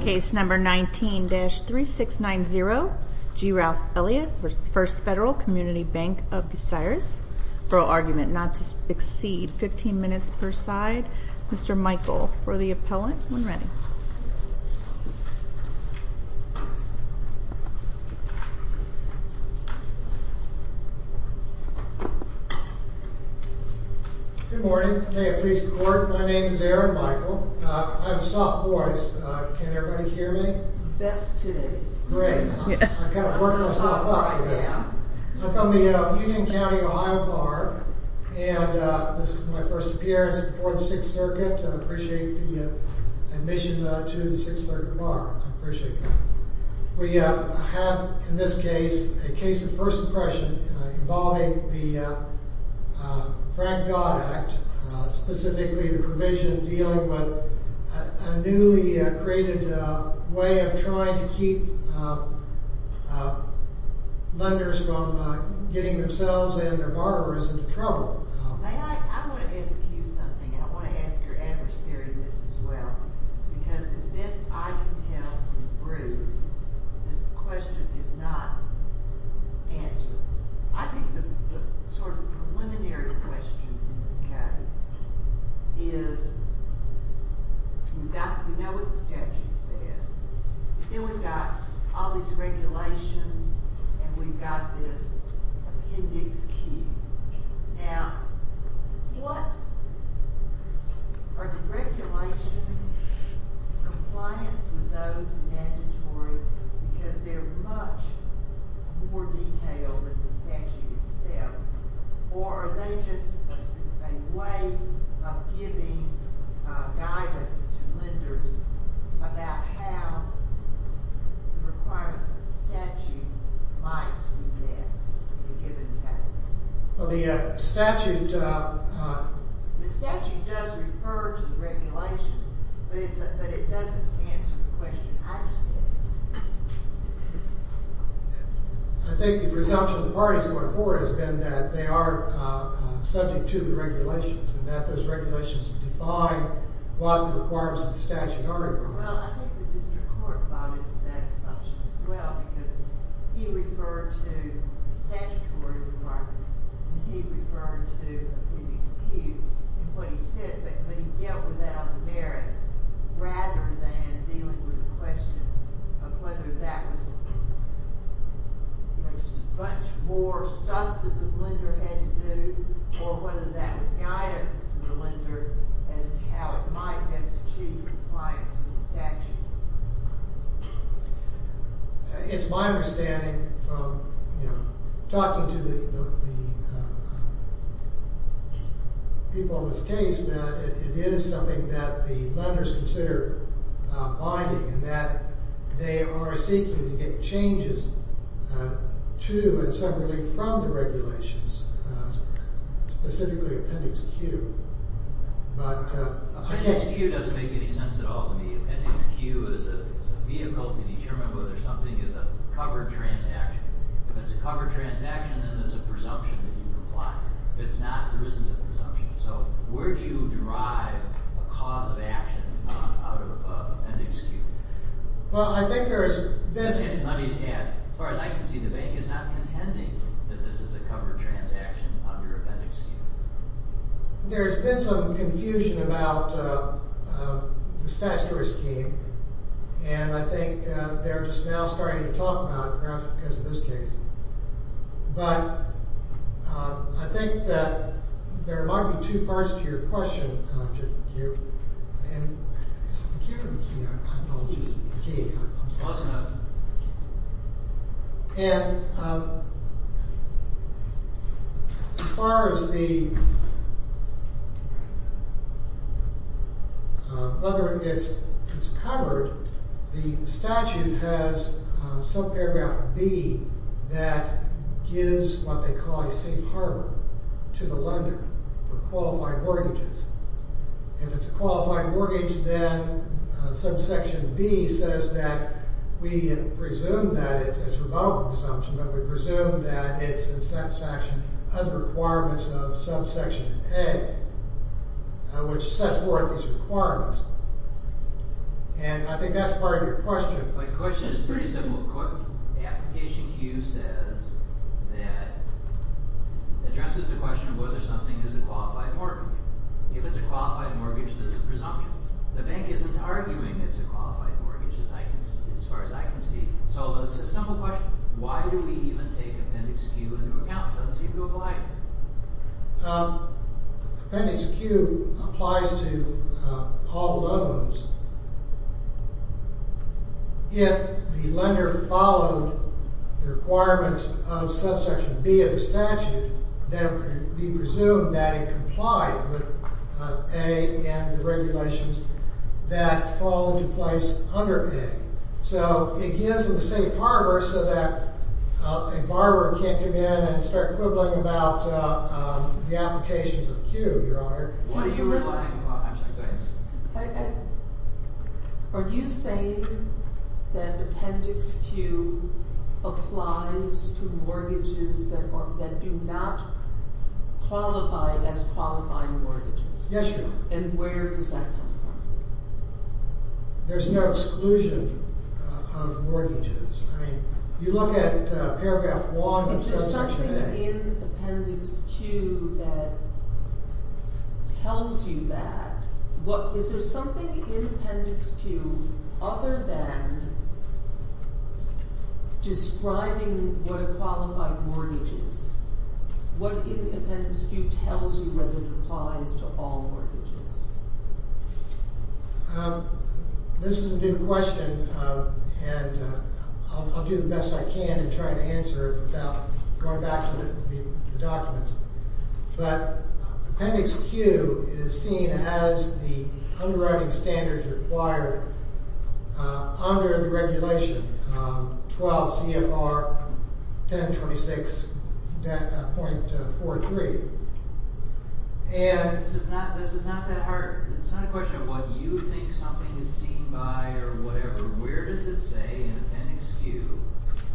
CASE NUMBER 19-3690 G. RALPH ELLIOTT V FIRST FED COMMUNITY BANK OF BUCIARIZ-FURL ARGUMENT NOT TO EXCEED 15 MINUTES PER SIDE MR. MICHAEL FOR THE APPELLANT, WHEN READY Good morning. May it please the Court my name is Aaron Michael I have a soft voice can everybody hear me? Let's hear you. Great. I'm not gonna work myself to this. I'm from the Union County of Ohio Barb and this is my first appearance. We have in this case a case of first impression involving the Frank Dodd Act specifically the provision dealing with a newly created way of trying to keep lenders from getting themselves and their borrowers into trouble. I want to ask you something and I want to ask your adversary this as well because as best I can tell from Bruce this question is not answered. I think the sort of preliminary question in this case is we know what the statute says then we've got all these regulations and we've got this appendix key. Now what are the regulations compliance with those mandatory because they're much more detailed than the statute itself or are they just a way of giving guidance to lenders about how the requirements of the statute might be met in a given case? Well the statute does refer to the regulations but it doesn't answer the question I just asked. I think the presumption of the parties going forward has been that they are subject to the regulations and that those regulations define what the requirements of the statute are. Well I think the district court bonded to that assumption as well because he referred to the statutory requirement and he referred to appendix Q and what he said but he dealt with that on the merits rather than dealing with the question of whether that was just a bunch more stuff that the lender had to do or whether that was guidance to the lender as to how it might best achieve compliance. It's my understanding from talking to the people in this case that it is something that the lenders consider bonding and that they are seeking to get changes to and separately from the regulations specifically appendix Q. Appendix Q doesn't make any sense at all to me. Appendix Q is a vehicle to determine whether something is a covered transaction. If it's a covered transaction then there's a presumption that you comply. If it's not there isn't a presumption. So where do you drive a cause of action out of appendix Q? As far as I can see the bank is not contending that this is a covered transaction under appendix Q. There's been some confusion about the statutory scheme and I think they're just now starting to talk about it perhaps because of this case. But I think that there might be two parts to your question. As far as whether it's covered the statute has some paragraph B that gives what they call a safe harbor to the lender for qualified mortgages. If it's a qualified mortgage then subsection B says that we presume that it's a rebuttal presumption but we presume that it's in satisfaction of the requirements of subsection A which sets forth these requirements. And I think that's part of your question. My question is pretty simple. The application Q says that addresses the question of whether something is a qualified mortgage. If it's a qualified mortgage there's a presumption. The bank isn't arguing it's a qualified mortgage as far as I can see. So it's a simple question. Why do we even take appendix Q into account? Let's see if you'll comply. Appendix Q applies to all loans. If the lender followed the requirements of subsection B of the statute then we presume that it complied with A and the regulations that fall into place under A. So it gives them a safe harbor so that a borrower can't come in and start quibbling about the application of Q, Your Honor. What are you implying? Are you saying that appendix Q applies to mortgages that do not qualify as qualifying mortgages? Yes, Your Honor. And where does that come from? There's no exclusion of mortgages. You look at paragraph 1 of subsection A. Is there something in appendix Q that tells you that? Is there something in appendix Q other than describing what a qualified mortgage is? What in appendix Q tells you whether it applies to all mortgages? This is a new question and I'll do the best I can in trying to answer it without going back through the documents. But appendix Q is seen as the underwriting standards required under the regulation 12 CFR 1026.43. This is not that hard. It's not a question of what you think something is seen by or whatever. Where does it say in appendix Q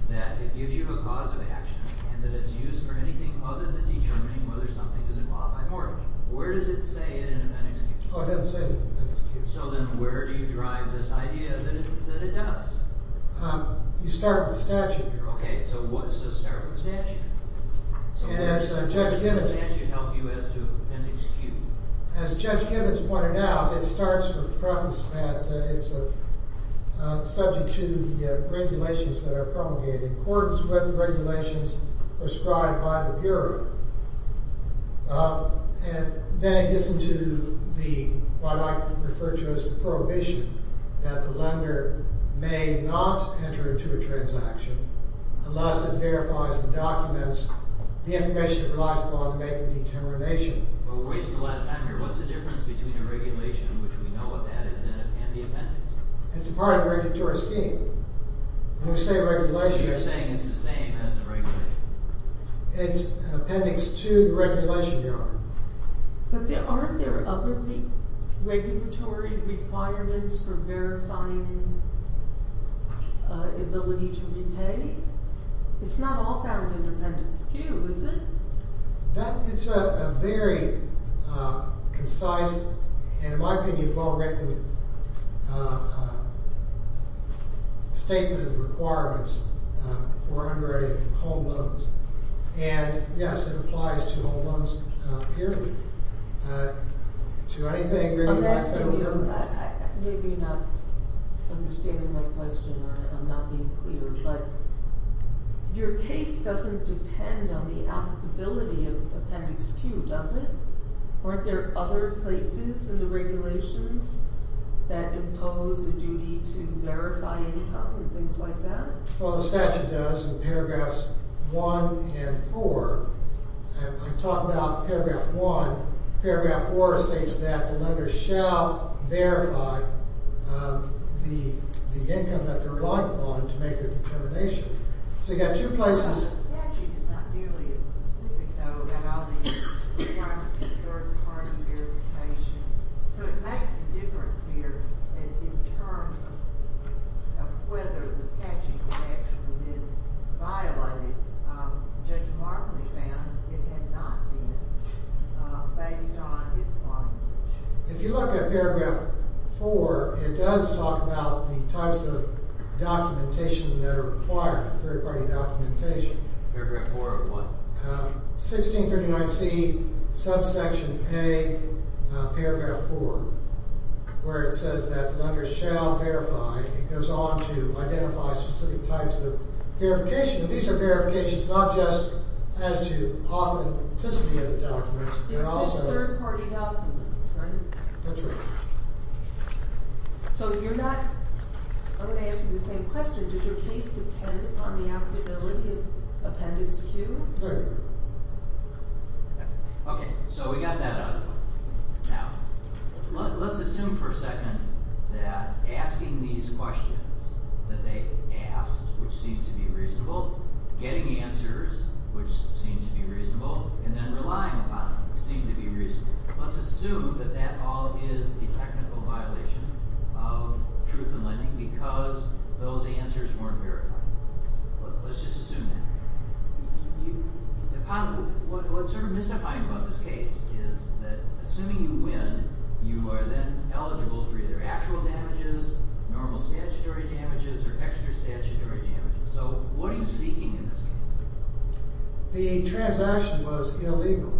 that it gives you a cause of action and that it's used for anything other than determining whether something is a qualified mortgage? Where does it say it in appendix Q? It doesn't say it in appendix Q. So then where do you drive this idea that it does? You start with the statute, Your Honor. So start with the statute? So where does the statute help you as to appendix Q? As Judge Gibbons pointed out, it starts with the preface that it's subject to the regulations that are promulgated in accordance with the regulations prescribed by the Bureau. Then it gets into what I refer to as the prohibition that the lender may not enter into a transaction unless it verifies the documents, the information it relies upon to make the determination. But we're wasting a lot of time here. What's the difference between a regulation in which we know what that is and the appendix? It's a part of the regulatory scheme. When we say regulation... You're saying it's the same as a regulation. It's appendix to the regulation, Your Honor. But aren't there other regulatory requirements for verifying ability to repay? It's not all found in appendix Q, is it? It's a very concise and, in my opinion, well-written statement of the requirements for unready home loans. And, yes, it applies to home loans purely. To anything... I'm asking you, maybe you're not understanding my question or I'm not being clear, but your case doesn't depend on the applicability of appendix Q, does it? Aren't there other places in the regulations that impose a duty to verify income and things like that? Well, the statute does in paragraphs 1 and 4. I talked about paragraph 1. Paragraph 4 states that the lender shall verify the income that they're relying upon to make a determination. So you've got two places. The statute is not nearly as specific, though, about all these requirements of third-party verification. So it makes a difference here in terms of whether the statute has actually been violated. Judge Martley found it had not been, based on its language. If you look at paragraph 4, it does talk about the types of documentation that are required for third-party documentation. Paragraph 4 of what? 1639C subsection A, paragraph 4, where it says that lenders shall verify. It goes on to identify specific types of verification. These are verifications not just as to authenticity of the documents, but also... It's just third-party documents, right? That's right. So you're not... I'm going to ask you the same question. Did your case depend upon the applicability of Appendix Q? Yes. Okay. So we got that out of the way. Now, let's assume for a second that asking these questions that they asked, which seemed to be reasonable, getting answers, which seemed to be reasonable, and then relying upon them seemed to be reasonable. Let's assume that that all is the technical violation of truth in lending because those answers weren't verified. Let's just assume that. What's sort of mystifying about this case is that assuming you win, you are then eligible for either actual damages, normal statutory damages, or extra statutory damages. So what are you seeking in this case? The transaction was illegal.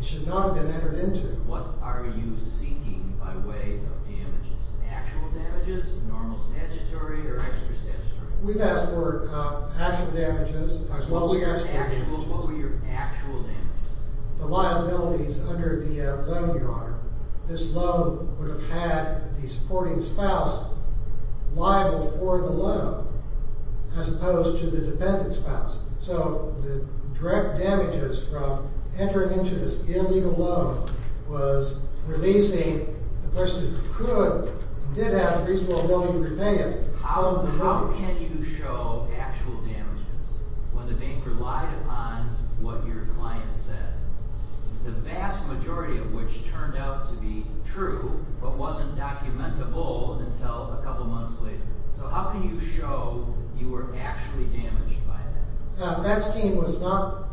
It should not have been entered into. What are you seeking by way of damages? Actual damages, normal statutory, or extra statutory? We've asked for actual damages as well as... What were your actual damages? The liabilities under the loan yard. This loan would have had the supporting spouse liable for the loan as opposed to the dependent spouse. So the direct damages from entering into this illegal loan was releasing the person who could and did have reasonable ability to repay it from the loan. How can you show actual damages when the bank relied upon what your client said? The vast majority of which turned out to be true but wasn't documentable until a couple months later. So how can you show you were actually damaged by that? That scheme was not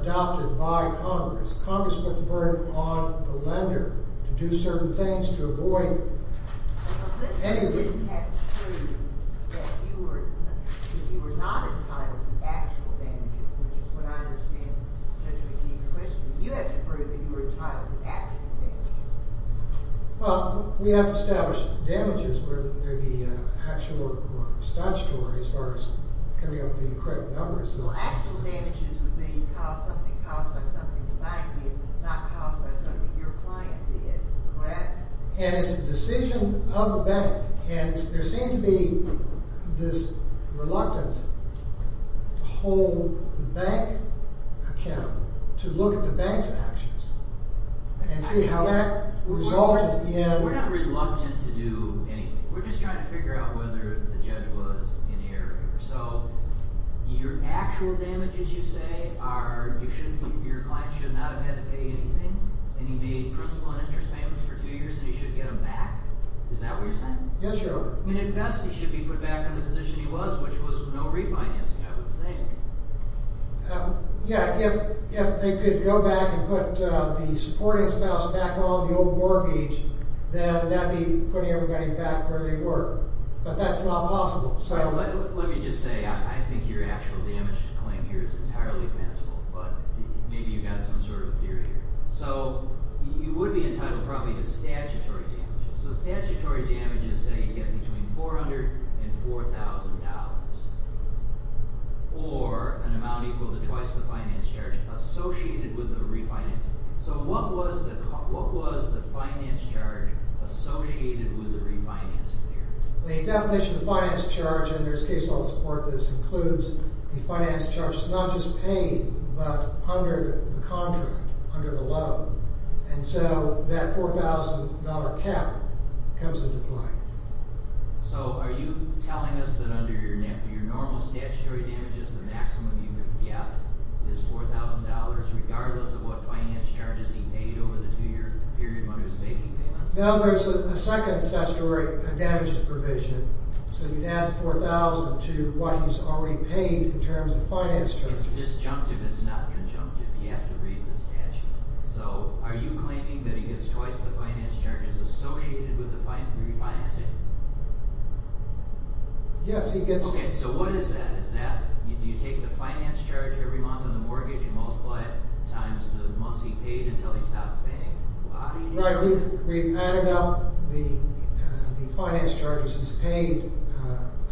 adopted by Congress. Congress put the burden on the lender to do certain things to avoid... But you had to prove that you were not entitled to actual damages, which is what I understand. You had to prove that you were entitled to actual damages. Well, we have to establish damages whether they be actual or statutory as far as coming up with the correct numbers. Well, actual damages would be something caused by something the bank did, not caused by something your client did, correct? And it's a decision of the bank. And there seemed to be this reluctance to hold the bank account to look at the bank's actions and see how that resulted in... We're not reluctant to do anything. We're just trying to figure out whether the judge was in error. So your actual damages, you say, your client should not have had to pay anything? And you made principal and interest payments for two years and you should get them back? Is that what you're saying? Yes, Your Honor. I mean, at best, he should be put back in the position he was, which was no refinancing, I would think. Yeah, if they could go back and put the supporting spouse back on the old mortgage, then that would be putting everybody back where they were. But that's not possible, so... Let me just say, I think your actual damage claim here is entirely fanciful, but maybe you've got some sort of theory here. So you would be entitled probably to statutory damages. So statutory damages say you get between $400,000 and $4,000, or an amount equal to twice the finance charge associated with the refinancing. So what was the finance charge associated with the refinancing here? The definition of finance charge, and there's case law to support this, includes the finance charge not just paid, but under the contract, under the loan. And so that $4,000 cap comes into play. So are you telling us that under your normal statutory damages, the maximum you could get is $4,000, regardless of what finance charges he paid over the two-year period when he was making payments? No, there's a second statutory damages provision, so you'd add $4,000 to what he's already paid in terms of finance charges. It's disjunctive, it's not conjunctive, you have to read the statute. So are you claiming that he gets twice the finance charges associated with the refinancing? Yes, he gets... Okay, so what is that? Do you take the finance charge every month on the mortgage and multiply it times the months he paid until he stopped paying? Right, we've added up the finance charges he's paid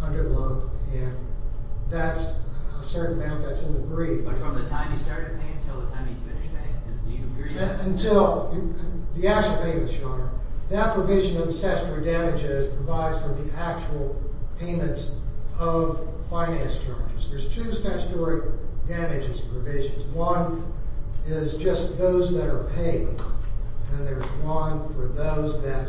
under the loan, and that's a certain amount that's in the brief. But from the time he started paying until the time he finished paying? Until, the actual payments, Your Honor, that provision of the statutory damages provides for the actual payments of finance charges. There's two statutory damages provisions. One is just those that are paid, and there's one for those that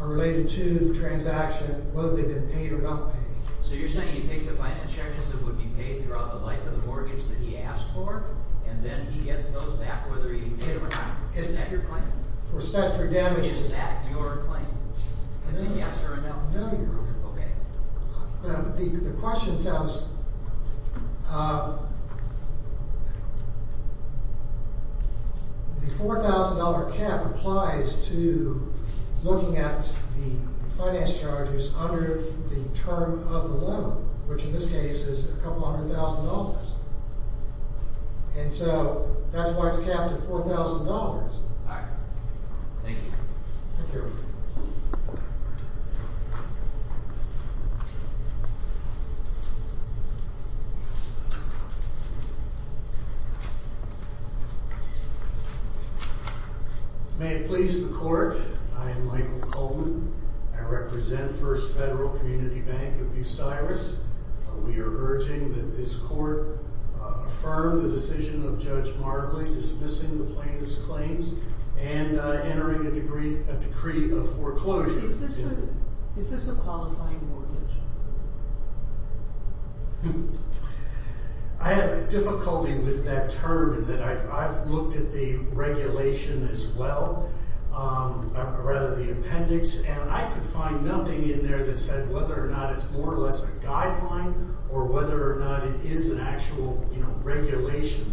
are related to the transaction, whether they've been paid or not paid. So you're saying you take the finance charges that would be paid throughout the life of the mortgage that he asked for, and then he gets those back, whether he paid them or not? Is that your claim? For statutory damages? Is that your claim? No. Is it yes or a no? No, Your Honor. Okay. The question sounds – the $4,000 cap applies to looking at the finance charges under the term of the loan, which in this case is a couple hundred thousand dollars. And so that's why it's capped at $4,000. All right. Thank you. Thank you. Thank you. May it please the Court, I am Michael Coleman. I represent First Federal Community Bank of Bucyrus. We are urging that this Court affirm the decision of Judge Martley dismissing the plaintiff's claims and entering a decree of foreclosure. Is this a qualifying mortgage? I have difficulty with that term in that I've looked at the regulation as well, or rather the appendix, and I could find nothing in there that said whether or not it's more or less a guideline or whether or not it is an actual regulation.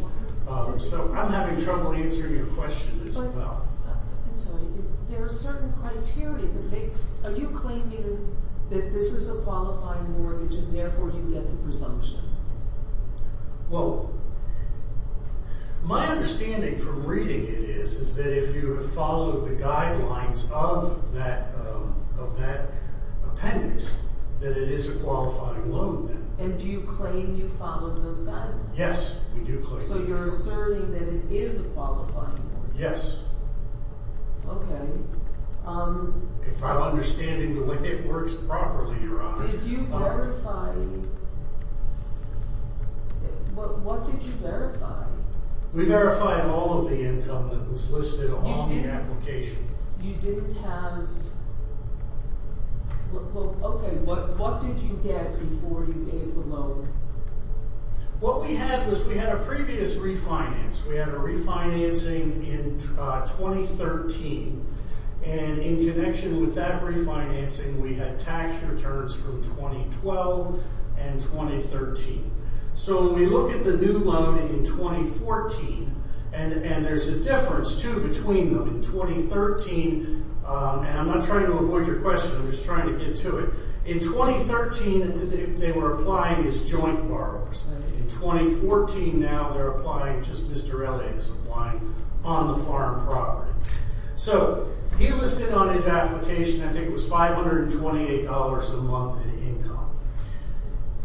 So I'm having trouble answering your question as well. I'm sorry. There are certain criteria that makes – are you claiming that this is a qualifying mortgage and therefore you get the presumption? Well, my understanding from reading it is that if you have followed the guidelines of that appendix, that it is a qualifying loan. And do you claim you followed those guidelines? Yes, we do claim that. So you're asserting that it is a qualifying mortgage? Yes. Okay. If I'm understanding the way it works properly, Your Honor. Did you verify – what did you verify? We verified all of the income that was listed along the application. You didn't have – okay, what did you get before you gave the loan? What we had was we had a previous refinance. We had a refinancing in 2013, and in connection with that refinancing, we had tax returns from 2012 and 2013. So when we look at the new loan in 2014, and there's a difference, too, between them. In 2013 – and I'm not trying to avoid your question. I'm just trying to get to it. In 2013, they were applying as joint borrowers. In 2014 now, they're applying – just Mr. Elliott is applying on the farm property. So he listed on his application, I think it was $528 a month in income.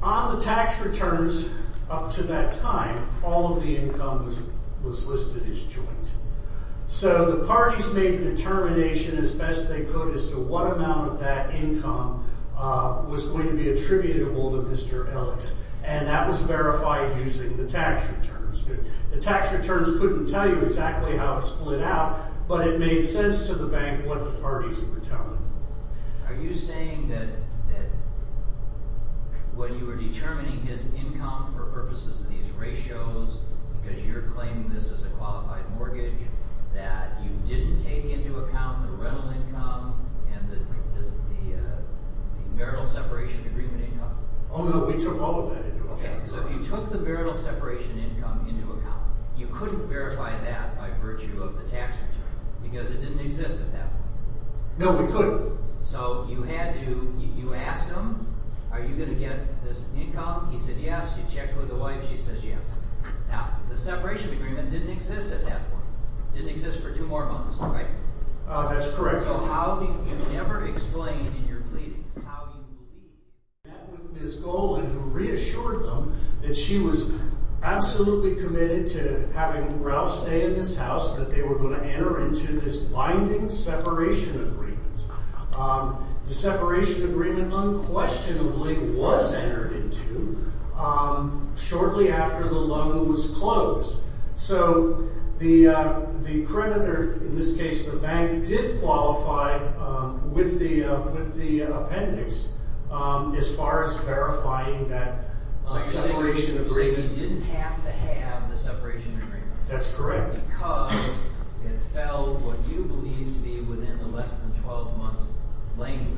On the tax returns up to that time, all of the income was listed as joint. So the parties made a determination, as best they could, as to what amount of that income was going to be attributable to Mr. Elliott. And that was verified using the tax returns. The tax returns couldn't tell you exactly how it split out, but it made sense to the bank what the parties were telling them. Are you saying that when you were determining his income for purposes of these ratios, because you're claiming this is a qualified mortgage, that you didn't take into account the rental income and the marital separation agreement income? Oh, no. We took all of that into account. Okay. So if you took the marital separation income into account, you couldn't verify that by virtue of the tax return because it didn't exist at that point. No, we couldn't. So you had to – you asked him, are you going to get this income? He said yes. You checked with the wife. She said yes. Now, the separation agreement didn't exist at that point. It didn't exist for two more months, right? That's correct. So how do you never explain in your pleadings how you believe? I met with Ms. Golan who reassured them that she was absolutely committed to having Ralph stay in this house, that they were going to enter into this binding separation agreement. The separation agreement unquestionably was entered into shortly after the loan was closed. So the creditor, in this case the bank, did qualify with the appendix as far as verifying that separation agreement. So you didn't have to have the separation agreement? That's correct. Because it fell what you believed to be within the less than 12 months language.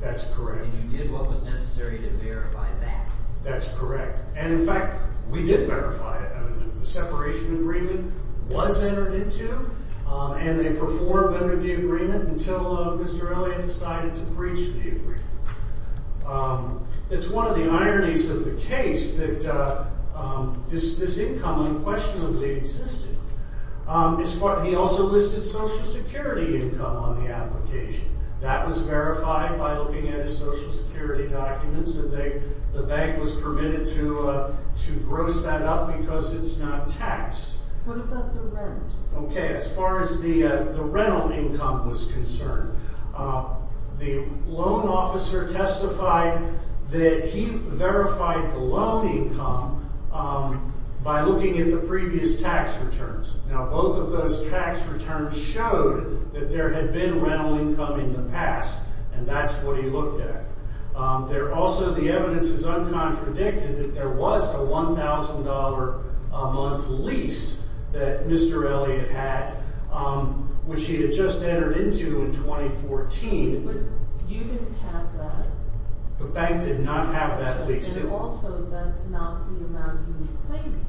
That's correct. And you did what was necessary to verify that. That's correct. And in fact, we did verify it. The separation agreement was entered into and they performed under the agreement until Mr. Elliott decided to breach the agreement. It's one of the ironies of the case that this income unquestionably existed. He also listed Social Security income on the application. That was verified by looking at his Social Security documents and the bank was permitted to gross that up because it's not taxed. What about the rent? Okay, as far as the rental income was concerned, the loan officer testified that he verified the loan income by looking at the previous tax returns. Now, both of those tax returns showed that there had been rental income in the past and that's what he looked at. Also, the evidence is uncontradicted that there was a $1,000 a month lease that Mr. Elliott had, which he had just entered into in 2014. But you didn't have that? The bank did not have that lease. And also, that's not the amount he was claiming,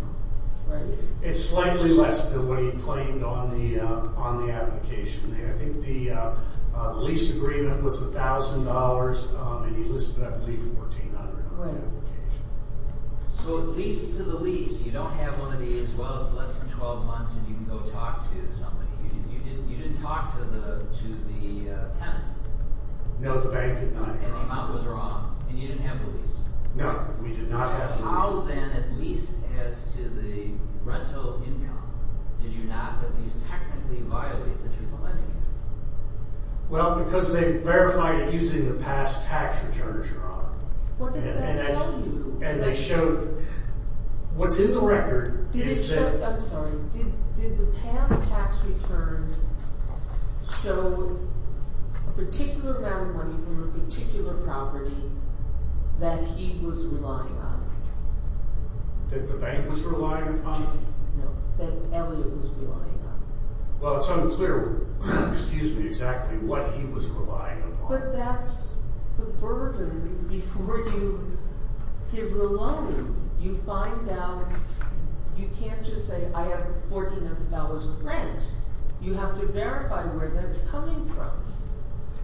right? It's slightly less than what he claimed on the application. I think the lease agreement was $1,000 and he listed, I believe, $1,400 on the application. So, at least to the lease, you don't have one of these, well, it's less than 12 months and you can go talk to somebody. You didn't talk to the tenant? No, the bank did not. And the amount was wrong and you didn't have the lease? No, we did not have the lease. So, how then, at least as to the rental income, did you not at least technically violate the truth of lending? Well, because they verified it using the past tax return, Your Honor. What did that tell you? And they showed – what's in the record is that – That the bank was relying upon it? No, that Elliot was relying on it. Well, it's unclear, excuse me, exactly what he was relying upon. But that's the burden before you give the loan. You find out – you can't just say, I have $1,400 of rent. You have to verify where that's coming from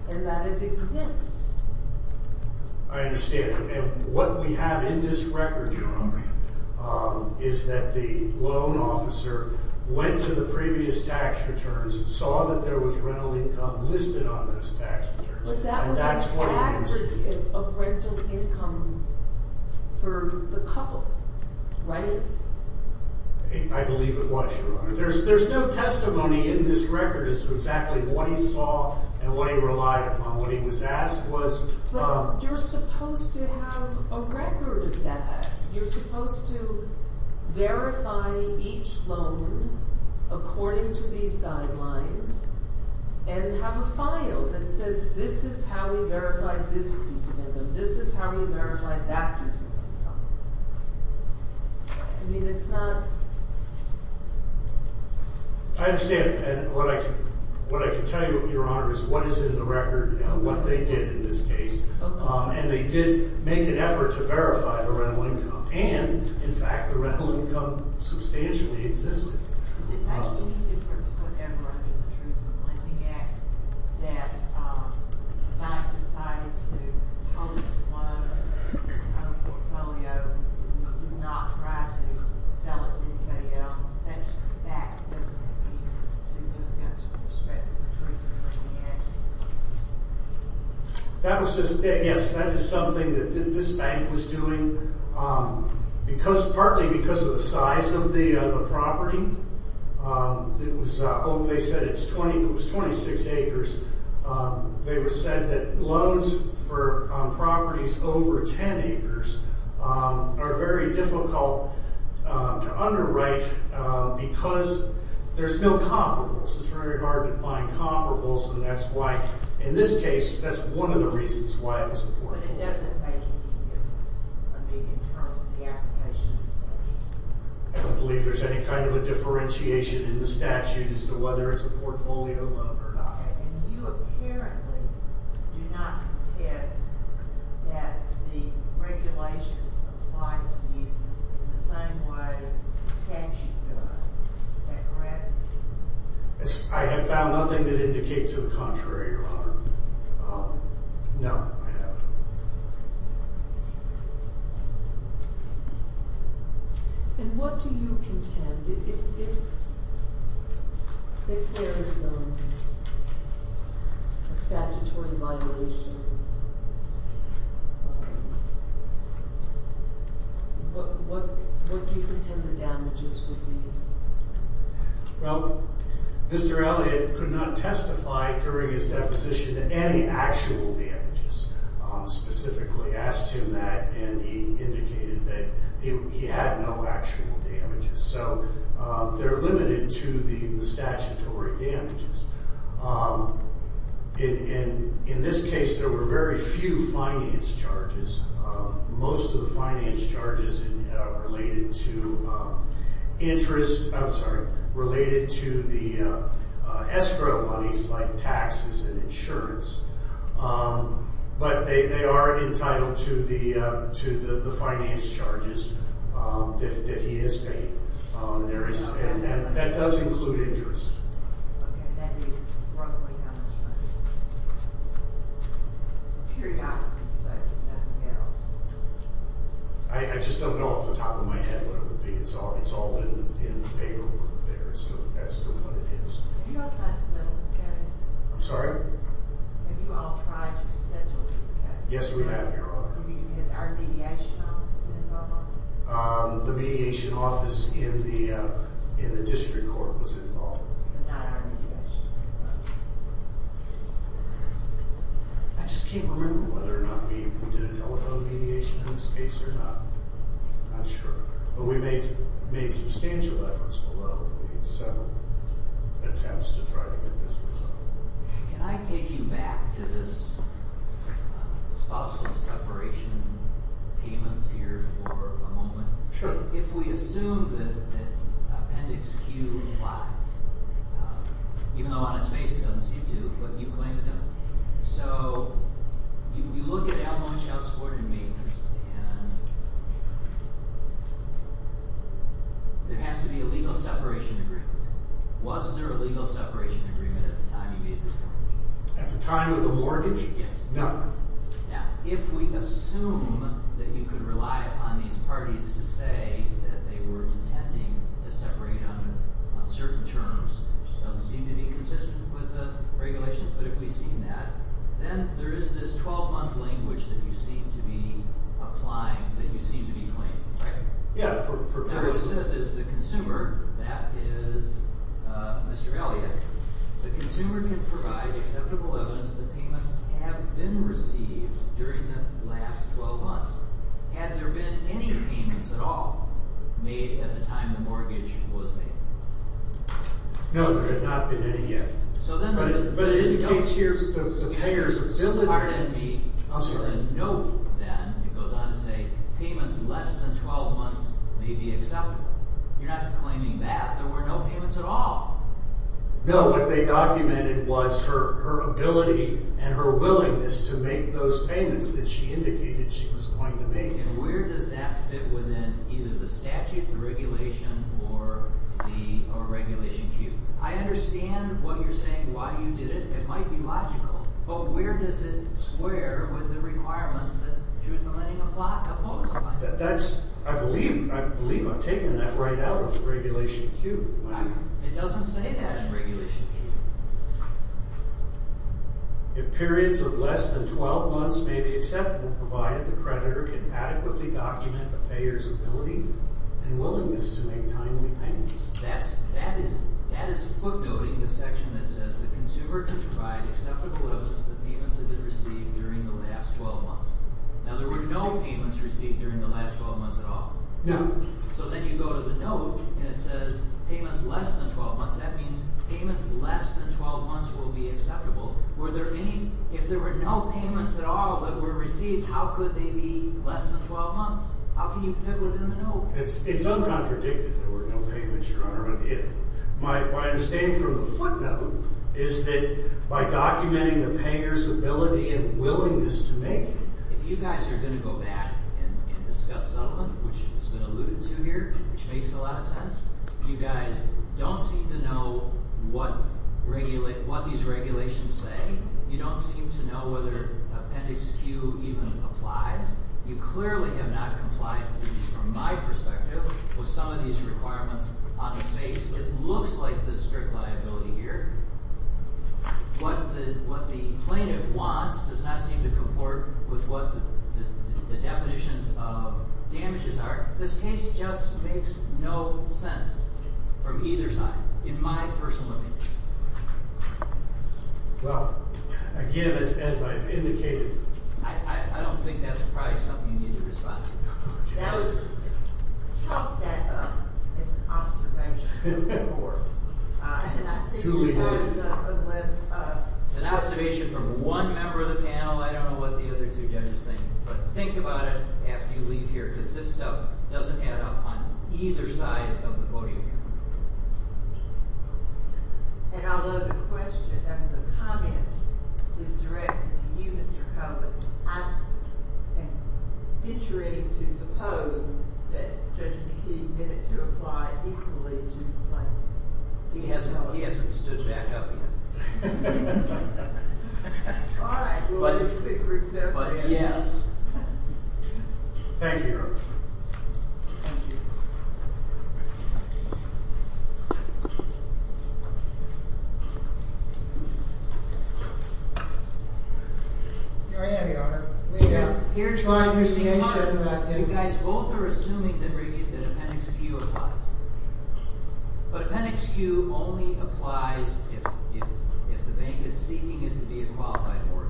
and that it exists. I understand. And what we have in this record, Your Honor, is that the loan officer went to the previous tax returns, saw that there was rental income listed on those tax returns. But that was an aggregate of rental income for the couple, right? I believe it was, Your Honor. There's no testimony in this record as to exactly what he saw and what he relied upon. What he was asked was – But you're supposed to have a record of that. You're supposed to verify each loan according to these guidelines and have a file that says this is how we verified this piece of income. This is how we verified that piece of income. I mean, it's not – I understand. And what I can tell you, Your Honor, is what is in the record and what they did in this case. And they did make an effort to verify the rental income. And, in fact, the rental income substantially existed. Does it make any difference whatever under the Treatment of Lending Act that the bank decided to hold this loan, this kind of portfolio, and do not try to sell it to anybody else? That's the fact, isn't it? Do you see that against the respect of the Treatment of Lending Act? That was just – yes, that is something that this bank was doing partly because of the size of the property. It was – they said it was 26 acres. They said that loans for properties over 10 acres are very difficult to underwrite because there's no comparables. It's very hard to find comparables, and that's why, in this case, that's one of the reasons why it was important. But it doesn't make any difference, I mean, in terms of the application itself? I don't believe there's any kind of a differentiation in the statute as to whether it's a portfolio loan or not. And you apparently do not contest that the regulations apply to you in the same way the statute does. Is that correct? I have found nothing that indicates the contrary, Your Honor. No, I haven't. And what do you contend? If there is a statutory violation, what do you contend the damages would be? Well, Mr. Elliott could not testify during his deposition to any actual damages. He specifically asked him that, and he indicated that he had no actual damages. So they're limited to the statutory damages. In this case, there were very few finance charges. Most of the finance charges related to interest – I'm sorry – related to the escrow monies like taxes and insurance. But they are entitled to the finance charges that he has paid. And that does include interest. Okay. And that would be roughly how much money? Curiosity, so nothing else? I just don't know off the top of my head what it would be. It's all in the paperwork there, so that's what it is. Have you all tried to settle this, guys? I'm sorry? Have you all tried to settle this case? Yes, we have, Your Honor. Has our mediation office been involved? The mediation office in the district court was involved. Not our mediation office. I just can't remember whether or not we did a telephone mediation in this case or not. I'm not sure. But we made substantial efforts below. We made several attempts to try to get this resolved. Can I take you back to this possible separation of payments here for a moment? Sure. If we assume that Appendix Q applies, even though on its face it doesn't seem to, but you claim it does. So you look at Almond, Shoutsport, and Maintenance, and there has to be a legal separation agreement. Was there a legal separation agreement at the time you made this determination? At the time of the mortgage? Yes. No. Now, if we assume that you could rely upon these parties to say that they were intending to separate on certain terms, which doesn't seem to be consistent with the regulations, but if we've seen that, then there is this 12-month language that you seem to be applying, that you seem to be claiming, right? Yeah. Now, what it says is the consumer, that is Mr. Elliott, the consumer can provide acceptable evidence that payments have been received during the last 12 months. Had there been any payments at all made at the time the mortgage was made? No, there had not been any yet. But it indicates here that the payers have still been paying. There's a note then that goes on to say payments less than 12 months may be acceptable. You're not claiming that there were no payments at all. No, what they documented was her ability and her willingness to make those payments that she indicated she was going to make. And where does that fit within either the statute, the regulation, or regulation Q? I understand what you're saying, why you did it. It might be logical. But where does it square with the requirements that due to the lending apply? I believe I've taken that right out of regulation Q. It doesn't say that in regulation Q. If periods of less than 12 months may be acceptable, provided the creditor can adequately document the payers' ability and willingness to make timely payments. That is footnoting the section that says the consumer can provide acceptable evidence that payments have been received during the last 12 months. Now, there were no payments received during the last 12 months at all. No. So then you go to the note and it says payments less than 12 months. That means payments less than 12 months will be acceptable. If there were no payments at all that were received, how could they be less than 12 months? How can you fit within the note? It's uncontradictory. There were no payments drawn or unpaid. My understanding from the footnote is that by documenting the payers' ability and willingness to make it. If you guys are going to go back and discuss settlement, which has been alluded to here, which makes a lot of sense, you guys don't seem to know what these regulations say. You don't seem to know whether Appendix Q even applies. You clearly have not complied with these from my perspective with some of these requirements on the face. It looks like there's strict liability here. What the plaintiff wants does not seem to comport with what the definitions of damages are. This case just makes no sense from either side in my personal opinion. Well, again, as I've indicated. I don't think that's probably something you need to respond to. It's an observation from one member of the panel. I don't know what the other two judges think. But think about it after you leave here because this stuff doesn't add up on either side of the podium. And although the question and the comment is directed to you, Mr. Coburn, I'm featuring to suppose that Judge McKee did it to apply equally to the plaintiff. He hasn't stood back up yet. All right. We'll just pick for himself. But yes. Thank you, Your Honor. Thank you. Thank you. Here I am, Your Honor. You guys both are assuming that appendix Q applies. But appendix Q only applies if the bank is seeking it to be a qualified mortgage.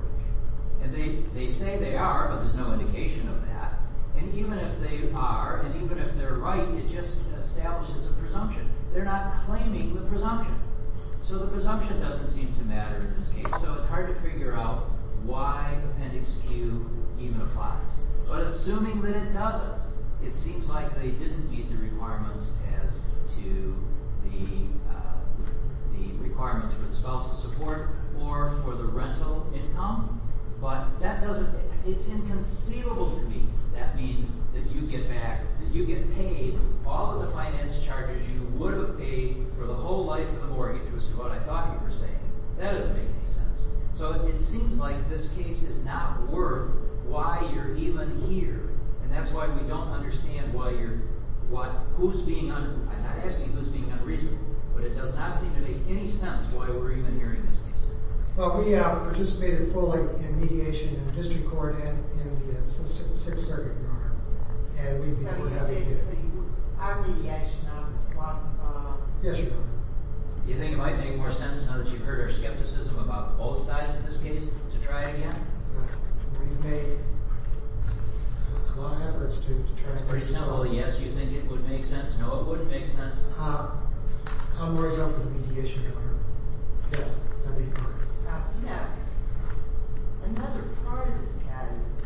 And they say they are, but there's no indication of that. And even if they are, and even if they're right, it just establishes a presumption. They're not claiming the presumption. So the presumption doesn't seem to matter in this case. So it's hard to figure out why appendix Q even applies. But assuming that it does, it seems like they didn't meet the requirements as to the requirements for the spouse's support or for the rental income. But that doesn't – it's inconceivable to me. That means that you get back – that you get paid all of the finance charges you would have paid for the whole life of the mortgage, was what I thought you were saying. That doesn't make any sense. So it seems like this case is not worth why you're even here. And that's why we don't understand why you're – who's being – I'm not asking who's being unreasonable. But it does not seem to make any sense why we're even hearing this case. Well, we have participated fully in mediation in the district court and in the Sixth Circuit, Your Honor. So you're saying our mediation office wasn't involved? Yes, Your Honor. Do you think it might make more sense now that you've heard our skepticism about both sides of this case to try again? We've made a lot of efforts to try again. That's pretty simple. Yes, you think it would make sense. I'm worried about the mediation, Your Honor. Yes, that would be fine. You know, another part of this case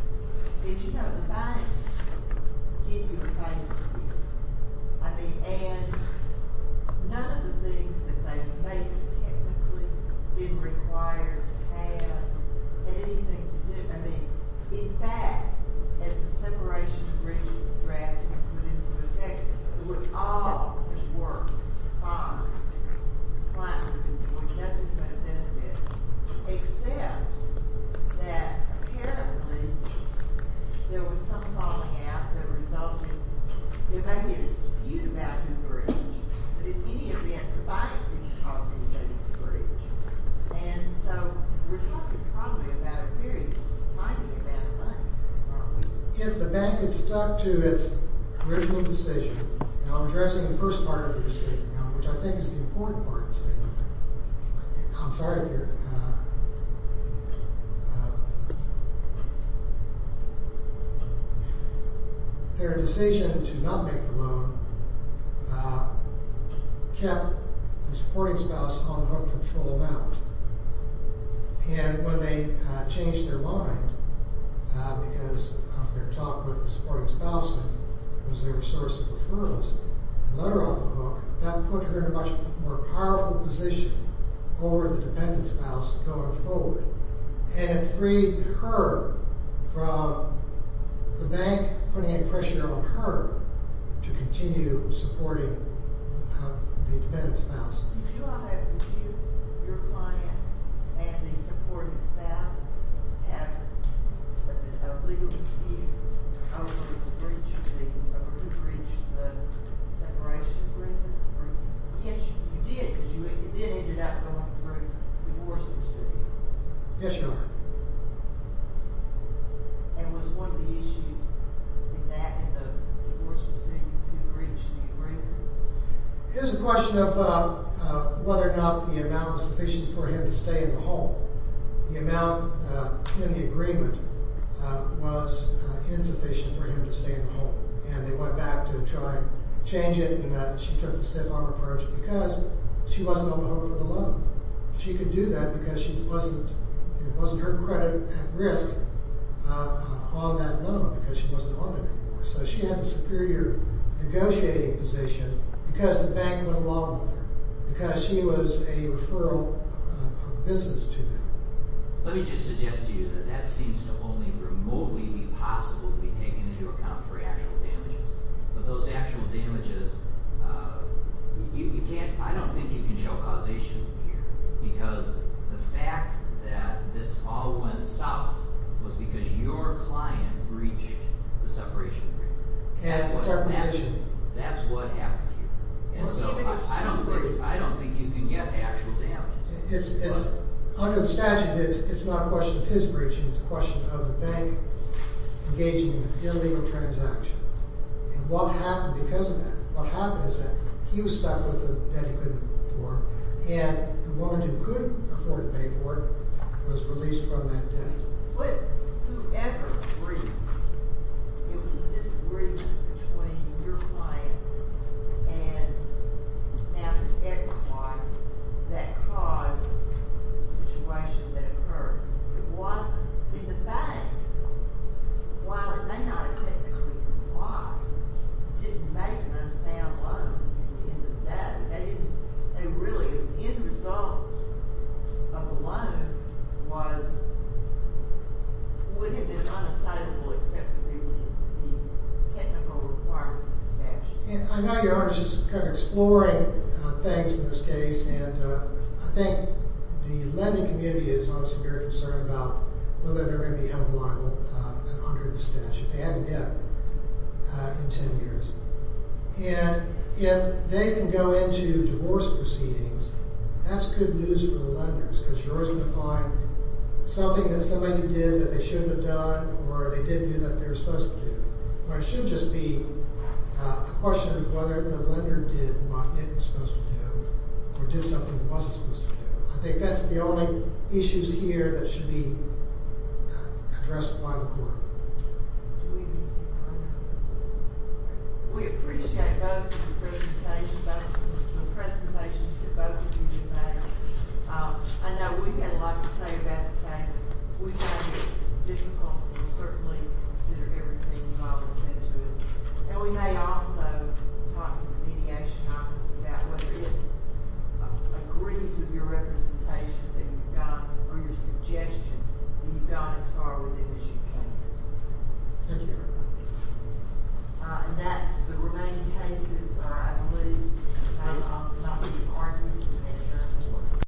is, you know, the bank did you a favor to you. I mean, and none of the things that they may technically be required to have had anything to do – I mean, in fact, as the separation of bridges was drafted and put into effect, it would all have worked fine. The client would have enjoyed nothing but a benefit, except that apparently there was some falling out that resulted – there may be a dispute about who breached, but in any event, the bank didn't cause anybody to breach. And so we're talking probably about a period. I think about a month, probably. If the bank had stuck to its original decision – and I'm addressing the first part of your statement now, which I think is the important part of the statement. I'm sorry if you're – Their decision to not make the loan kept the supporting spouse on the hook for the full amount. And when they changed their mind because of their talk with the supporting spouse, who was their source of referrals, and let her on the hook, that put her in a much more powerful position over the dependent spouse going forward. And it freed her from the bank putting pressure on her to continue supporting the dependent spouse. Did you or your client and the supporting spouse have a legal dispute over who breached the separation agreement? Yes, you did, because you then ended up going through divorce proceedings. Yes, Your Honor. And was one of the issues with that, in the divorce proceedings, who breached the agreement? It was a question of whether or not the amount was sufficient for him to stay in the home. The amount in the agreement was insufficient for him to stay in the home. And they went back to try and change it, and she took the stiff armor part because she wasn't on the hook for the loan. She could do that because it wasn't her credit at risk on that loan because she wasn't on it anymore. So she had the superior negotiating position because the bank went along with her, because she was a referral of business to them. Let me just suggest to you that that seems to only remotely be possible to be taken into account for actual damages. But those actual damages, you can't, I don't think you can show causation here. Because the fact that this all went south was because your client breached the separation agreement. That's what happened here. So I don't think you can get actual damages. Under the statute, it's not a question of his breaching. It's a question of the bank engaging in an illegal transaction. And what happened because of that, what happened is that he was stuck with a debt he couldn't afford, and the woman who could afford to pay for it was released from that debt. But whoever agreed, it was a disagreement between your client and now this ex-wife that caused the situation that occurred. It wasn't in the bank. While it may not have technically been the bank, it didn't make an unsound loan in the bank. And really, the end result of a loan would have been unassidable except for the technical requirements of the statute. I know your Honor is just kind of exploring things in this case, and I think the lending community is obviously very concerned about whether they're going to be held liable under the statute. They haven't yet in 10 years. And if they can go into divorce proceedings, that's good news for the lenders, because you're always going to find something that somebody did that they shouldn't have done, or they didn't do that they were supposed to do. It shouldn't just be a question of whether the lender did what it was supposed to do, or did something it wasn't supposed to do. I think that's the only issues here that should be addressed by the court. We appreciate both of the presentations that both of you have made. I know we've had a lot to say about the case. We found it difficult, and we certainly consider everything you all have said to us. And we may also talk to the mediation office about whether it agrees with your representation that you've got or your suggestion that you've gone as far with it as you can. Thank you. In that, the remaining cases, I believe, are not being argued in this court.